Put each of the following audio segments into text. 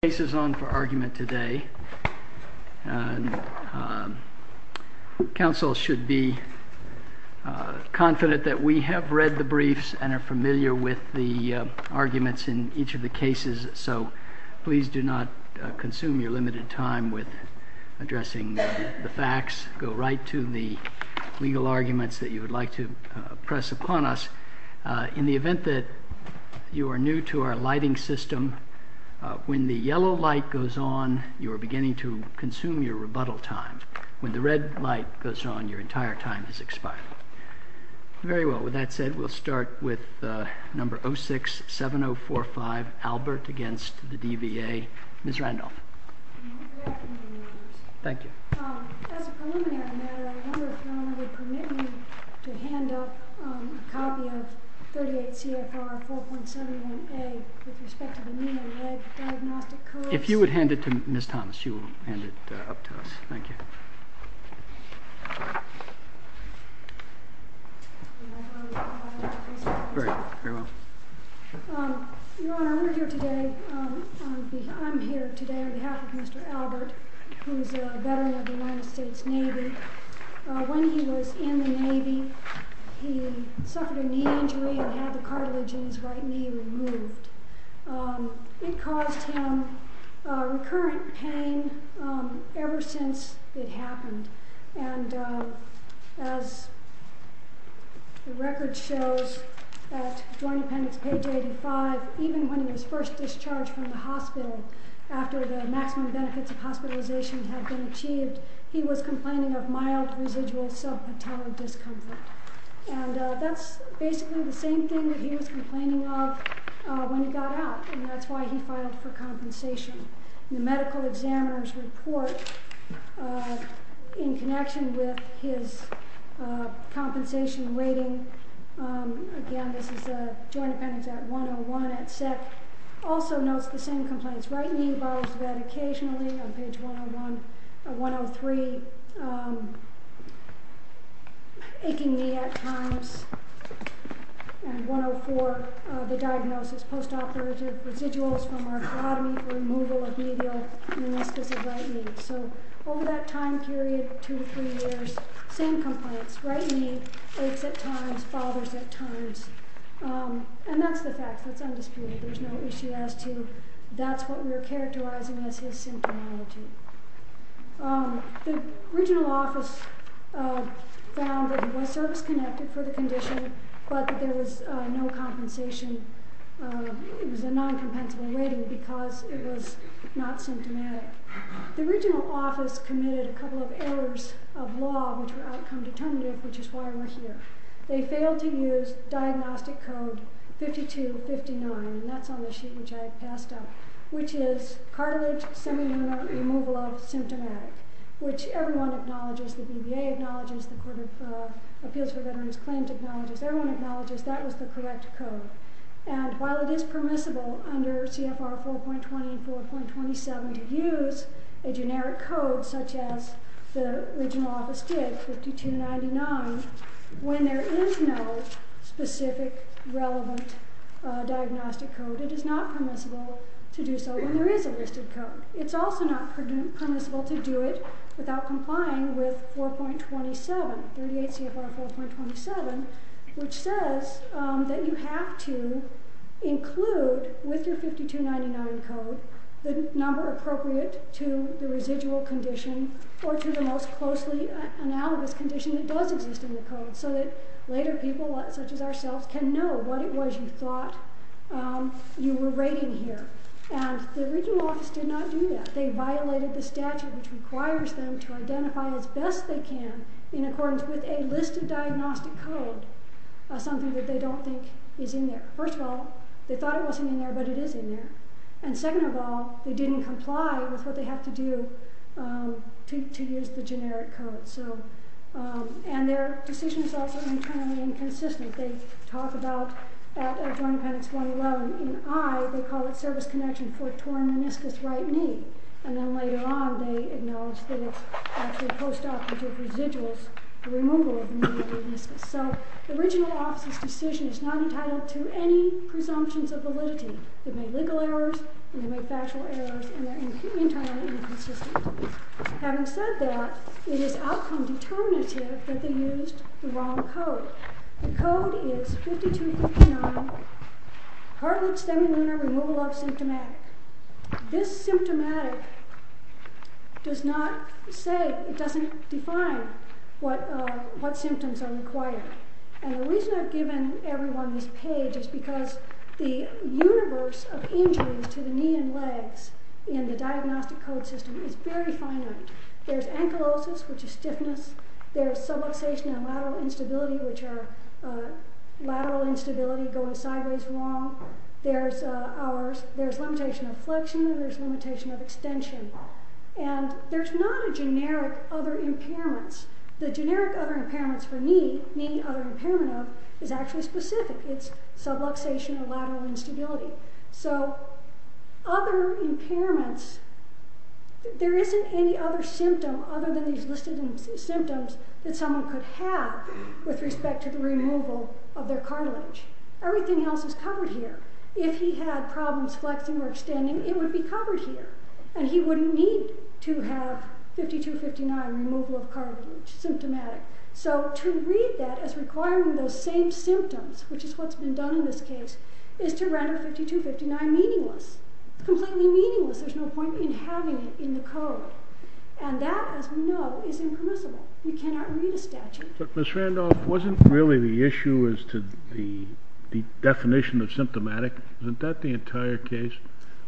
The case is on for argument today. Council should be confident that we have read the briefs and are familiar with the arguments in each of the cases so please do not consume your limited time with addressing the facts. Go right to the legal arguments that you would like to press upon us. In the event that you are new to our lighting system, when the yellow light goes on, you are beginning to consume your rebuttal time. When the red light goes on, your entire time is expired. Very well, with that said, we'll start with number 067045, Albert, against the DVA. Ms. Randolph. Good afternoon. Thank you. As a preliminary matter, I wonder if your Honor would permit me to hand up a copy of 38 CFR 4.71A with respect to the neon red diagnostic codes. If you would hand it to Ms. Thomas, she will hand it up to us. Thank you. Your Honor, I'm here today on behalf of Mr. Albert, who is a veteran of the United States Navy. When he was in the Navy, he suffered a knee injury and had the cartilage in his right knee removed. It caused him recurrent pain ever since it happened, and as the record shows at Joint Appendix page 85, even when he was first discharged from the hospital, after the maximum benefits of hospitalization had been achieved, he was complaining of mild residual sub-patellar discomfort. And that's basically the same thing that he was complaining of when he got out, and that's why he filed for compensation. The medical examiner's report, in connection with his compensation waiting, again, this is the Joint Appendix at 101 at SEC, also notes the same complaints. Right knee bottles of ed occasionally, on page 103, aching knee at times, and 104, the diagnosis, post-operative residuals from arthrotomy, removal of medial meniscus of right knee. So over that time period, two to three years, same complaints. Right knee aches at times, bothers at times, and that's the fact. That's undisputed. There's no issue as to that's what we're characterizing as his symptomatology. The regional office found that he was service-connected for the condition, but there was no compensation. It was a non-compensable rating because it was not symptomatic. The regional office committed a couple of errors of law, which were outcome-determinative, which is why we're here. They failed to use Diagnostic Code 5259, and that's on the sheet which I passed out, which is cartilage semi-minor removal of symptomatic, which everyone acknowledges. The BVA acknowledges. The Court of Appeals for Veterans Claims acknowledges. Everyone acknowledges that was the correct code. And while it is permissible under CFR 4.20 and 4.27 to use a generic code such as the regional office did, 5299, when there is no specific, relevant diagnostic code, it is not permissible to do so when there is a listed code. It's also not permissible to do it without complying with 4.27, 38 CFR 4.27, which says that you have to include with your 5299 code the number appropriate to the residual condition or to the most closely analogous condition that does exist in the code so that later people such as ourselves can know what it was you thought you were rating here. And the regional office did not do that. They violated the statute which requires them to identify as best they can in accordance with a list of diagnostic code, something that they don't think is in there. First of all, they thought it wasn't in there, but it is in there. And second of all, they didn't comply with what they had to do to use the generic code. And their decision is also internally inconsistent. They talk about at Joint Appendix 111, in I, they call it service connection for a torn meniscus right knee. And then later on, they acknowledge that it's actually post-operative residuals, the removal of the meniscus. So the regional office's decision is not entitled to any presumptions of validity. They've made legal errors, they've made factual errors, and they're internally inconsistent. Having said that, it is outcome determinative that they used the wrong code. The code is 5259, Hartlett Stem and Lunar Removal of Symptomatic. This symptomatic does not say, it doesn't define what symptoms are required. And the reason I've given everyone this page is because the universe of injuries to the knee and legs in the diagnostic code system is very finite. There's ankylosis, which is stiffness. There's subluxation and lateral instability, which are lateral instability, going sideways wrong. There's limitation of flexion. There's limitation of extension. And there's not a generic other impairments. The generic other impairments for knee, knee other impairment of, is actually specific. It's subluxation or lateral instability. So other impairments, there isn't any other symptom other than these listed symptoms that someone could have with respect to the removal of their cartilage. Everything else is covered here. If he had problems flexing or extending, it would be covered here. And he wouldn't need to have 5259, removal of cartilage, symptomatic. So to read that as requiring those same symptoms, which is what's been done in this case, is to render 5259 meaningless. It's completely meaningless. There's no point in having it in the code. And that, as we know, is impermissible. You cannot read a statute. But Ms. Randolph, wasn't really the issue as to the definition of symptomatic? Isn't that the entire case? It is.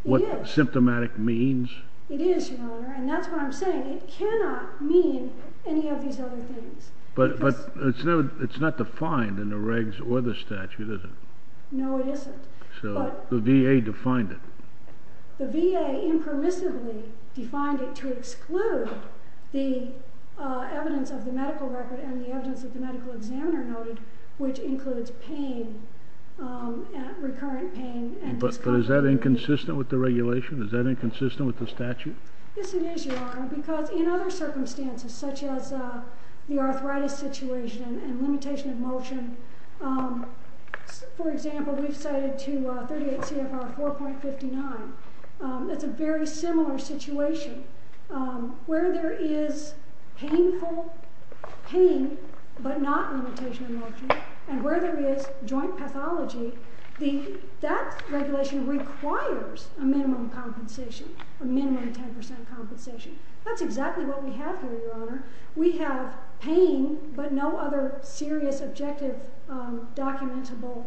What symptomatic means? It is, Your Honor. And that's what I'm saying. It cannot mean any of these other things. But it's not defined in the regs or the statute, is it? No, it isn't. So the VA defined it. The VA impermissibly defined it to exclude the evidence of the medical record and the evidence that the medical examiner noted, which includes pain, recurrent pain. But is that inconsistent with the regulation? Is that inconsistent with the statute? Yes, it is, Your Honor, because in other circumstances, such as the arthritis situation and limitation of motion, for example, we've cited to 38 CFR 4.59. That's a very similar situation. Where there is painful pain, but not limitation of motion, and where there is joint pathology, that regulation requires a minimum compensation, a minimum 10% compensation. That's exactly what we have here, Your Honor. We have pain, but no other serious, objective, documentable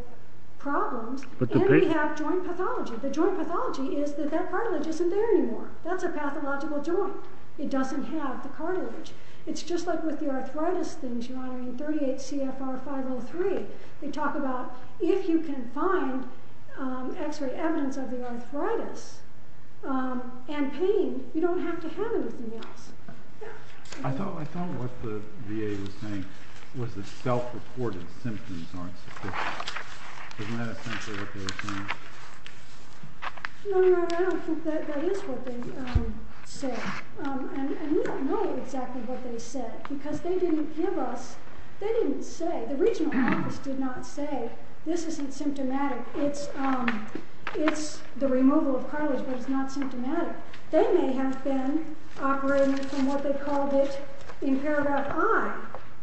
problems. And we have joint pathology. The joint pathology is that that cartilage isn't there anymore. That's a pathological joint. It doesn't have the cartilage. It's just like with the arthritis things, Your Honor, in 38 CFR 5.03. They talk about if you can find X-ray evidence of the arthritis and pain, you don't have to have anything else. I thought what the VA was saying was that self-reported symptoms aren't sufficient. Isn't that essentially what they were saying? No, Your Honor, I don't think that is what they said. And we don't know exactly what they said, because they didn't give us, they didn't say, the regional office did not say, this isn't symptomatic, it's the removal of cartilage but it's not symptomatic. They may have been operating from what they called it in paragraph I,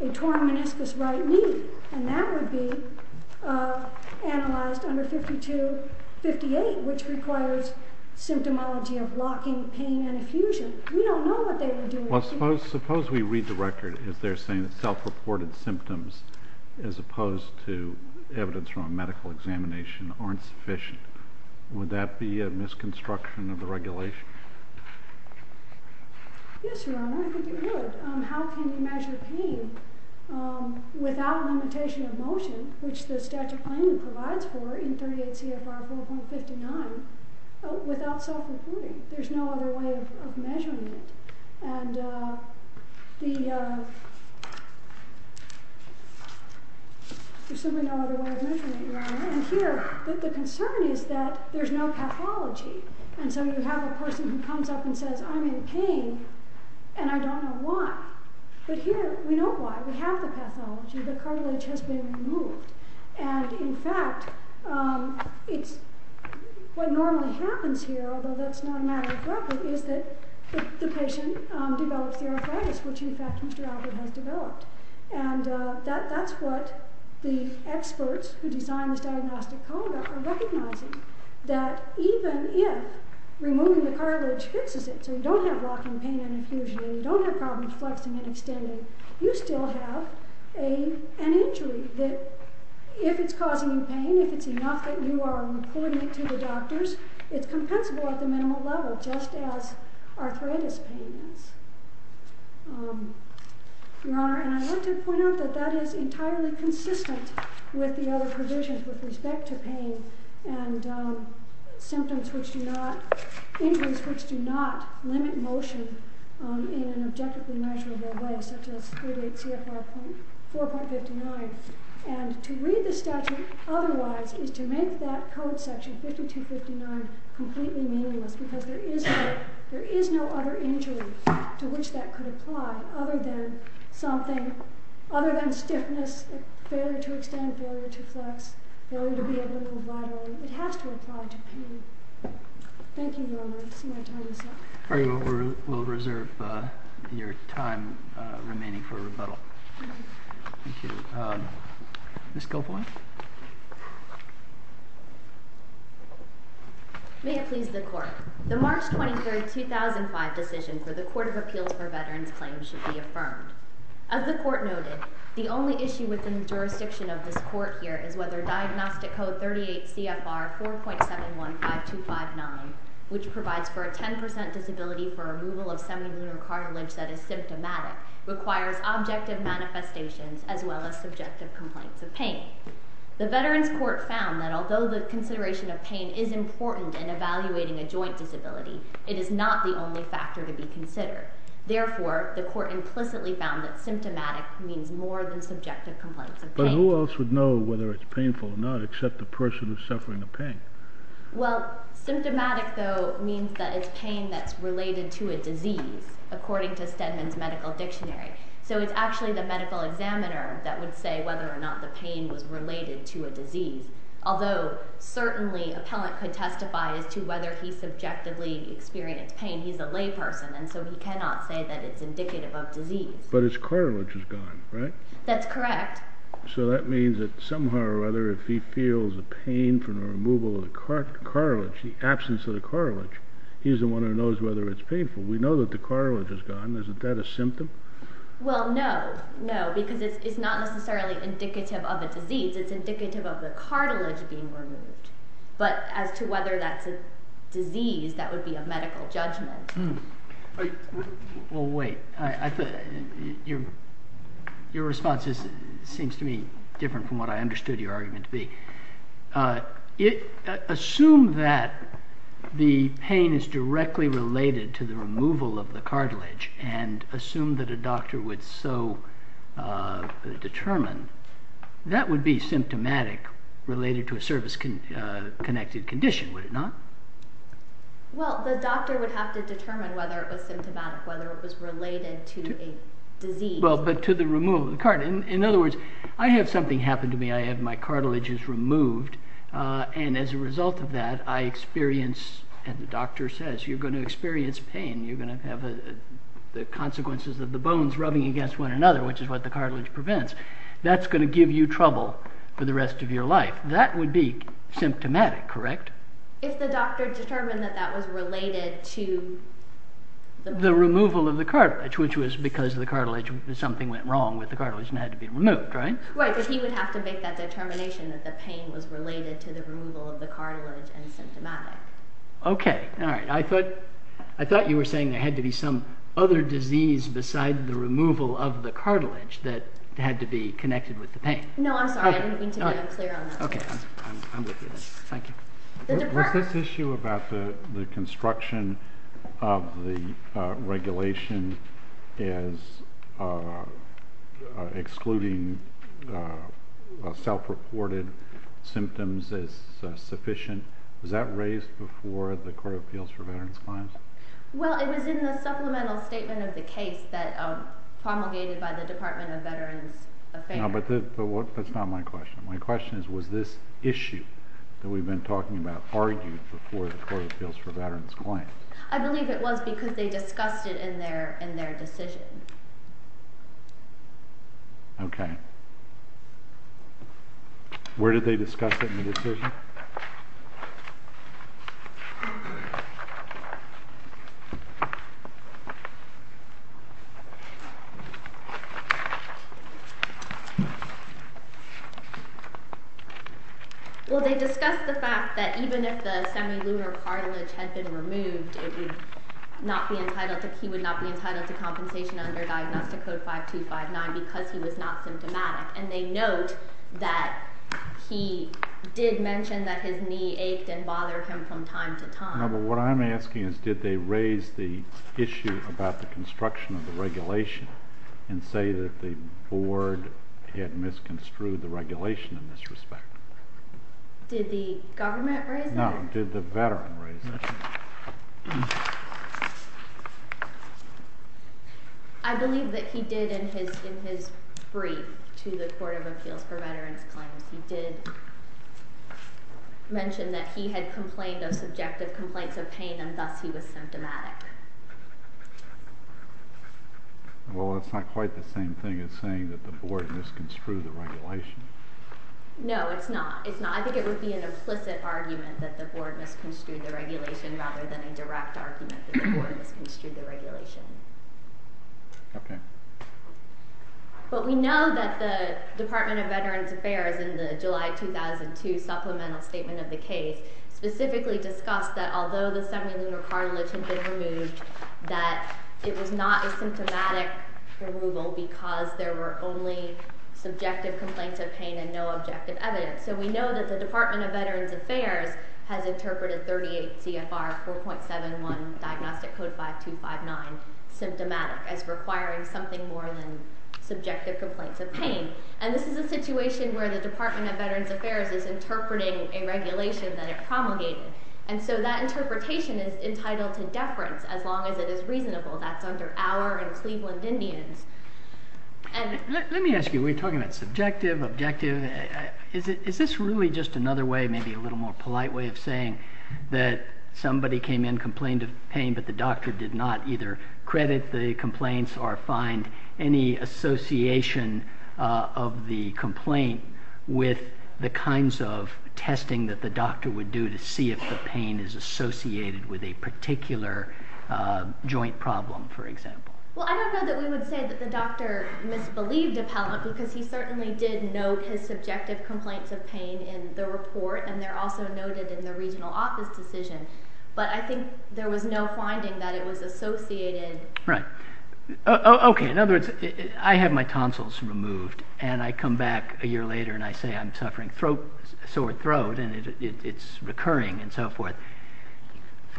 a torn meniscus right knee, and that would be analyzed under 52-58, which requires symptomology of locking, pain, and effusion. We don't know what they were doing. Well, suppose we read the record as they're saying that self-reported symptoms, as opposed to evidence from a medical examination, aren't sufficient. Would that be a misconstruction of the regulation? Yes, Your Honor, I think it would. How can you measure pain without limitation of motion, which the statute plainly provides for in 38 CFR 4.59, without self-reporting? There's no other way of measuring it, Your Honor. And here, the concern is that there's no pathology, and so you have a person who comes up and says, I'm in pain, and I don't know why. But here, we know why. We have the pathology. The cartilage has been removed. And in fact, what normally happens here, although that's not a matter of record, is that the patient develops the arthritis, which in fact Mr. Albert has developed. And that's what the experts who designed this diagnostic code are recognizing, that even if removing the cartilage fixes it, so you don't have locking, pain, and effusion, and you don't have problems flexing and extending, you still have an injury that, if it's causing you pain, if it's enough that you are reporting it to the doctors, it's compensable at the minimal level, just as arthritis pain is. Your Honor, and I'd like to point out that that is entirely consistent with the other provisions with respect to pain and injuries which do not limit motion in an objectively measurable way, such as 38 CFR 4.59. And to read the statute otherwise is to make that code section 52.59 completely meaningless, because there is no other injury to which that could apply other than stiffness, failure to extend, failure to flex, failure to be able to move widely. It has to apply to pain. Thank you, Your Honor. I see my time is up. We will reserve your time remaining for rebuttal. Thank you. Ms. Gilboy. May it please the Court. The March 23, 2005 decision for the Court of Appeals for Veterans Claims should be affirmed. As the Court noted, the only issue within the jurisdiction of this Court here is whether Diagnostic Code 38 CFR 4.715259, which provides for a 10% disability for removal of semilunar cartilage that is symptomatic, requires objective manifestations as well as subjective complaints of pain. The Veterans Court found that although the consideration of pain is important in evaluating a joint disability, it is not the only factor to be considered. Therefore, the Court implicitly found that symptomatic means more than subjective complaints of pain. But who else would know whether it's painful or not except the person who's suffering the pain? Well, symptomatic, though, means that it's pain that's related to a disease, according to Stedman's Medical Dictionary. So it's actually the medical examiner that would say whether or not the pain was related to a disease. Although, certainly, appellant could testify as to whether he subjectively experienced pain. He's a layperson, and so he cannot say that it's indicative of disease. But his cartilage is gone, right? That's correct. So that means that somehow or other, if he feels a pain from the removal of the cartilage, the absence of the cartilage, he's the one who knows whether it's painful. We know that the cartilage is gone. Isn't that a symptom? Well, no. No, because it's not necessarily indicative of a disease. It's indicative of the cartilage being removed. But as to whether that's a disease, that would be a medical judgment. Well, wait. Your response seems to me different from what I understood your argument to be. Assume that the pain is directly related to the removal of the cartilage, and assume that a doctor would so determine, that would be symptomatic related to a service-connected condition, would it not? Well, the doctor would have to determine whether it was symptomatic, whether it was related to a disease. Well, but to the removal of the cartilage. In other words, I have something happen to me. I have my cartilage removed, and as a result of that, I experience, and the doctor says, you're going to experience pain. You're going to have the consequences of the bones rubbing against one another, which is what the cartilage prevents. That's going to give you trouble for the rest of your life. That would be symptomatic, correct? If the doctor determined that that was related to... The removal of the cartilage, which was because the cartilage, something went wrong with the cartilage and had to be removed, right? Right, but he would have to make that determination that the pain was related to the removal of the cartilage and symptomatic. Okay, alright. I thought you were saying there had to be some other disease beside the removal of the cartilage that had to be connected with the pain. No, I'm sorry. I didn't mean to be unclear on that. Okay, I'm with you. Thank you. Was this issue about the construction of the regulation as excluding self-reported symptoms as sufficient, was that raised before the Court of Appeals for Veterans' Claims? Well, it was in the supplemental statement of the case that promulgated by the Department of Veterans Affairs. No, but that's not my question. My question is, was this issue that we've been talking about argued before the Court of Appeals for Veterans' Claims? I believe it was because they discussed it in their decision. Okay. Where did they discuss it in the decision? Well, they discussed the fact that even if the semilunar cartilage had been removed, he would not be entitled to compensation under Diagnostic Code 5259 because he was not symptomatic. And they note that he did mention that his knee ached and bothered him from time to time. No, but what I'm asking is, did they raise the issue about the construction of the regulation and say that the Board had misconstrued the regulation in this respect? Did the government raise it? No, did the veteran raise it? I believe that he did in his brief to the Court of Appeals for Veterans' Claims, he did mention that he had complained of subjective complaints of pain and thus he was symptomatic. Well, it's not quite the same thing as saying that the Board misconstrued the regulation. No, it's not. I think it would be an implicit argument that the Board misconstrued the regulation rather than a direct argument that the Board misconstrued the regulation. Okay. But we know that the Department of Veterans Affairs in the July 2002 supplemental statement of the case specifically discussed that although the semilunar cartilage had been removed, that it was not a symptomatic removal because there were only subjective complaints of pain and no objective evidence. So we know that the Department of Veterans Affairs has interpreted 38 CFR 4.71 Diagnostic Code 5259 symptomatic as requiring something more than subjective complaints of pain. And this is a situation where the Department of Veterans Affairs is interpreting a regulation that it promulgated. And so that interpretation is entitled to deference as long as it is reasonable. That's under our and Cleveland Indians. Let me ask you, we're talking about subjective, objective. Is this really just another way, maybe a little more polite way of saying that somebody came in, complained of pain, but the doctor did not either credit the complaints or find any association of the complaint with the kinds of testing that the doctor would do to see if the pain is associated with a particular joint problem, for example? Well, I don't know that we would say that the doctor misbelieved Appellant because he certainly did note his subjective complaints of pain in the report. And they're also noted in the regional office decision. But I think there was no finding that it was associated. Right. Okay. In other words, I have my tonsils removed and I come back a year later and I say I'm suffering sore throat and it's recurring and so forth.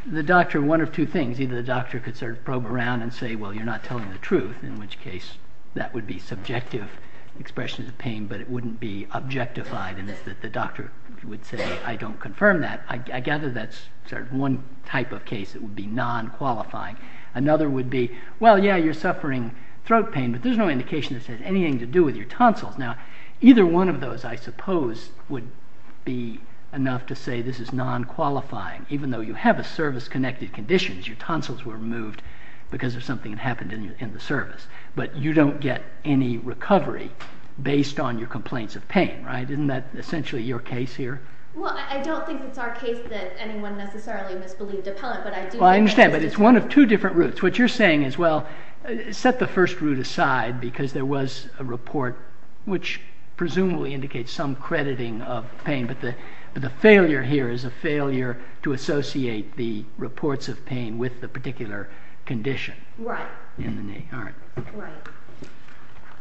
The doctor, one of two things, either the doctor could sort of probe around and say, well, you're not telling the truth, in which case that would be subjective expressions of pain, but it wouldn't be objectified and that the doctor would say, I don't confirm that. I gather that's sort of one type of case that would be non-qualifying. Another would be, well, yeah, you're suffering throat pain, but there's no indication that it has anything to do with your tonsils. Now, either one of those, I suppose, would be enough to say this is non-qualifying, even though you have a service-connected condition. Your tonsils were removed because of something that happened in the service. But you don't get any recovery based on your complaints of pain, right? Isn't that essentially your case here? Well, I don't think it's our case that anyone necessarily misbelieved Appellant, but I do think that it is. Well, I understand, but it's one of two different routes. What you're saying is, well, set the first route aside because there was a report which presumably indicates some crediting of pain, but the failure here is a failure to associate the reports of pain with the particular condition. Right. All right. Right.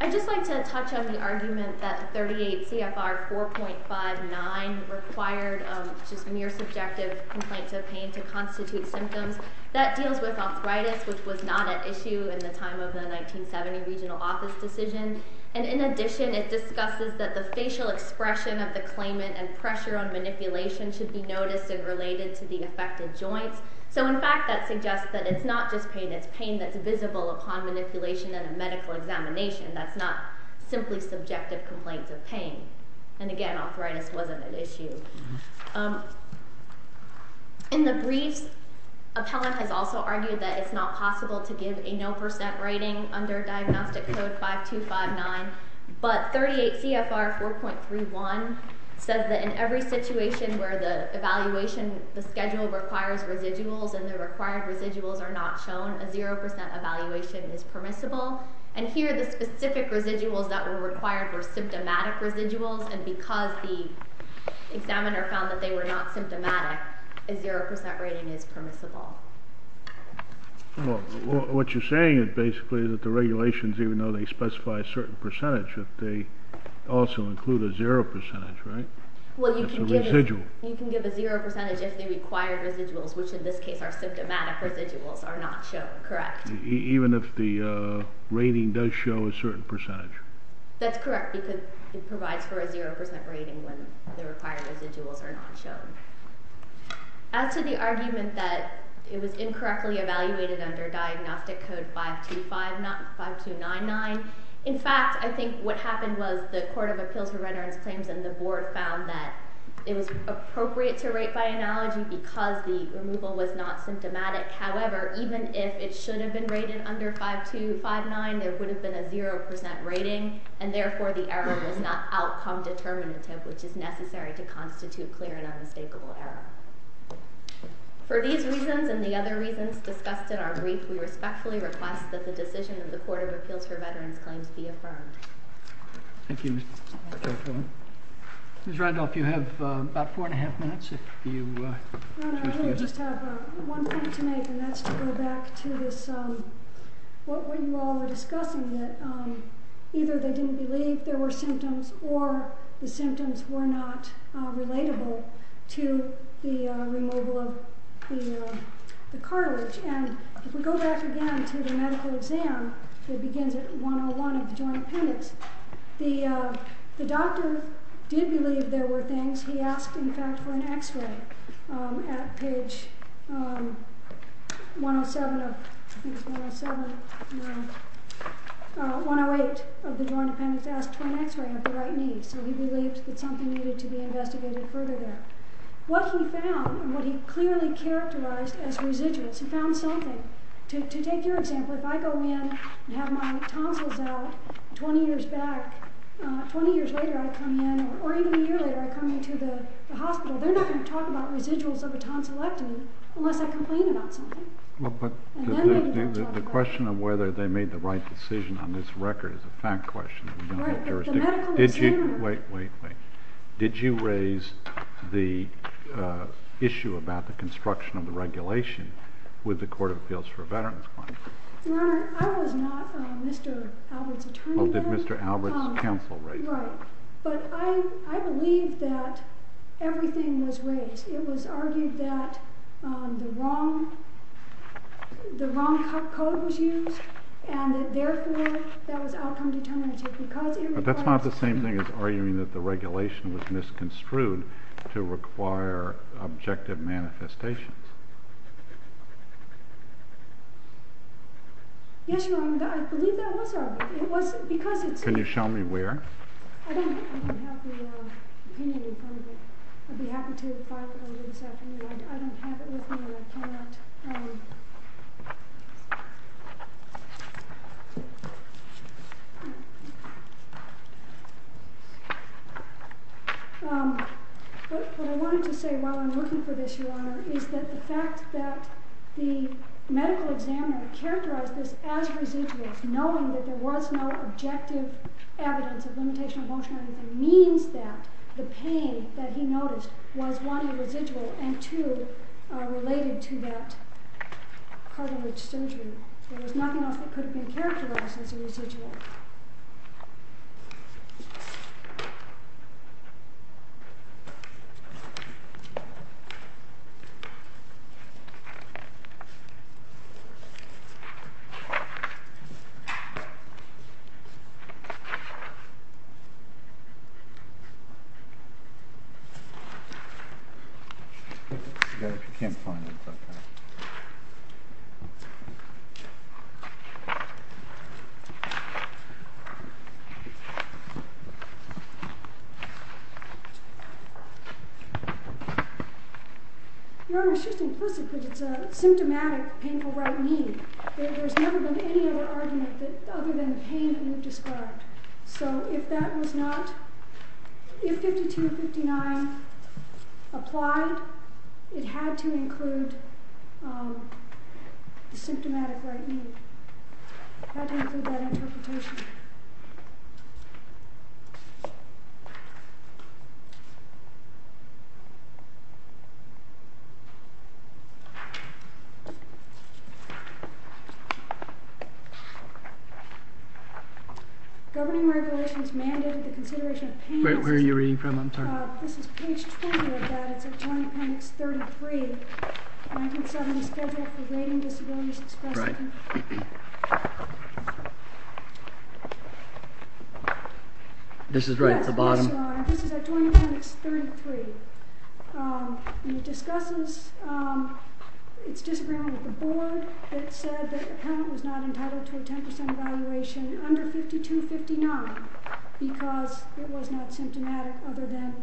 I'd just like to touch on the argument that 38 CFR 4.59 required just mere subjective complaints of pain to constitute symptoms. That deals with arthritis, which was not at issue in the time of the 1970 regional office decision. And in addition, it discusses that the facial expression of the claimant and pressure on manipulation should be noticed and related to the affected joints. So, in fact, that suggests that it's not just pain. It's pain that's visible upon manipulation and a medical examination. That's not simply subjective complaints of pain. And, again, arthritis wasn't at issue. In the briefs, appellant has also argued that it's not possible to give a no percent rating under diagnostic code 5259, but 38 CFR 4.31 says that in every situation where the evaluation schedule requires residuals and the required residuals are not shown, a zero percent evaluation is permissible. And here the specific residuals that were required were symptomatic residuals, and because the examiner found that they were not symptomatic, a zero percent rating is permissible. Well, what you're saying is basically that the regulations, even though they specify a certain percentage, that they also include a zero percentage, right, as a residual. Well, you can give a zero percentage if the required residuals, which in this case are symptomatic residuals, are not shown, correct? Even if the rating does show a certain percentage. That's correct, because it provides for a zero percent rating when the required residuals are not shown. As to the argument that it was incorrectly evaluated under diagnostic code 5299, in fact, I think what happened was the Court of Appeals for Renderance Claims and the Board found that it was appropriate to rate by analogy because the removal was not symptomatic. However, even if it should have been rated under 5299, there would have been a zero percent rating, and therefore the error was not outcome determinative, which is necessary to constitute clear and unmistakable error. For these reasons and the other reasons discussed in our brief, we respectfully request that the decision of the Court of Appeals for Veterans Claims be affirmed. Thank you, Ms. Tertullin. Ms. Randolph, you have about four and a half minutes if you choose to. Your Honor, I really just have one point to make, and that's to go back to this, what you all were discussing, that either they didn't believe there were symptoms or the symptoms were not relatable to the removal of the cartilage. And if we go back again to the medical exam that begins at 101 of the Joint Appendix, the doctor did believe there were things. He asked, in fact, for an X-ray at page 108 of the Joint Appendix. He asked for an X-ray of the right knee, so he believed that something needed to be investigated further there. What he found and what he clearly characterized as residues, he found something. To take your example, if I go in and have my tonsils out 20 years back, 20 years later I come in, or even a year later I come into the hospital, they're not going to talk about residuals of a tonsillectomy unless I complain about something. The question of whether they made the right decision on this record is a fact question. Wait, wait, wait. Did you raise the issue about the construction of the regulation with the Court of Appeals for Veterans claim? Your Honor, I was not Mr. Albert's attorney then. Oh, did Mr. Albert's counsel raise that? Right. But I believe that everything was raised. It was argued that the wrong code was used, and therefore that was outcome determinative because it requires... But that's not the same thing as arguing that the regulation was misconstrued to require objective manifestations. Yes, Your Honor, I believe that was argued. It was because it's... Can you show me where? I don't have the opinion in front of me. I'd be happy to if I were you this afternoon. I don't have it with me and I cannot... What I wanted to say while I'm looking for this, Your Honor, is that the fact that the medical examiner characterized this as residuals, knowing that there was no objective evidence of limitation of motion or anything, means that the pain that he noticed was one, a residual, and two, related to that cartilage surgery. There was nothing else that could have been characterized as a residual. Put this together if you can't find it. Your Honor, it's just implicit because it's a symptomatic painful right knee. There's never been any other argument other than the pain that you've described. So if that was not... If 5259 applied, it had to include the symptomatic right knee. It had to include that interpretation. Thank you. Governing regulations mandated the consideration of painless... Where are you reading from? I'm sorry. This is page 20 of that. It's at 20, appendix 33, 1970, and the schedule for rating disabilities expressed... This is right at the bottom. This is at 20, appendix 33. And it discusses... It's disagreement with the board that said that the appellant was not entitled to a 10% evaluation under 5259 because it was not symptomatic other than...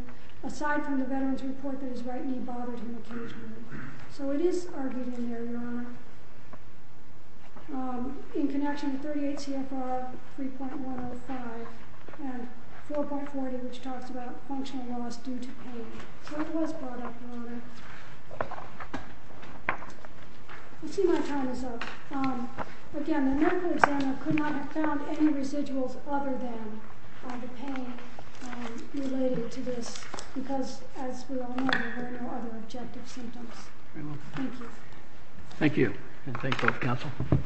Aside from the veteran's report that his right knee bothered him occasionally. So it is argued in there, Your Honor. In connection with 38 CFR 3.105 and 4.40, which talks about functional loss due to pain. So it was brought up, Your Honor. Let's see my time is up. Again, the medical examiner could not have found any residuals other than the pain related to this because, as we all know, there were no other objective symptoms. Thank you. Thank you.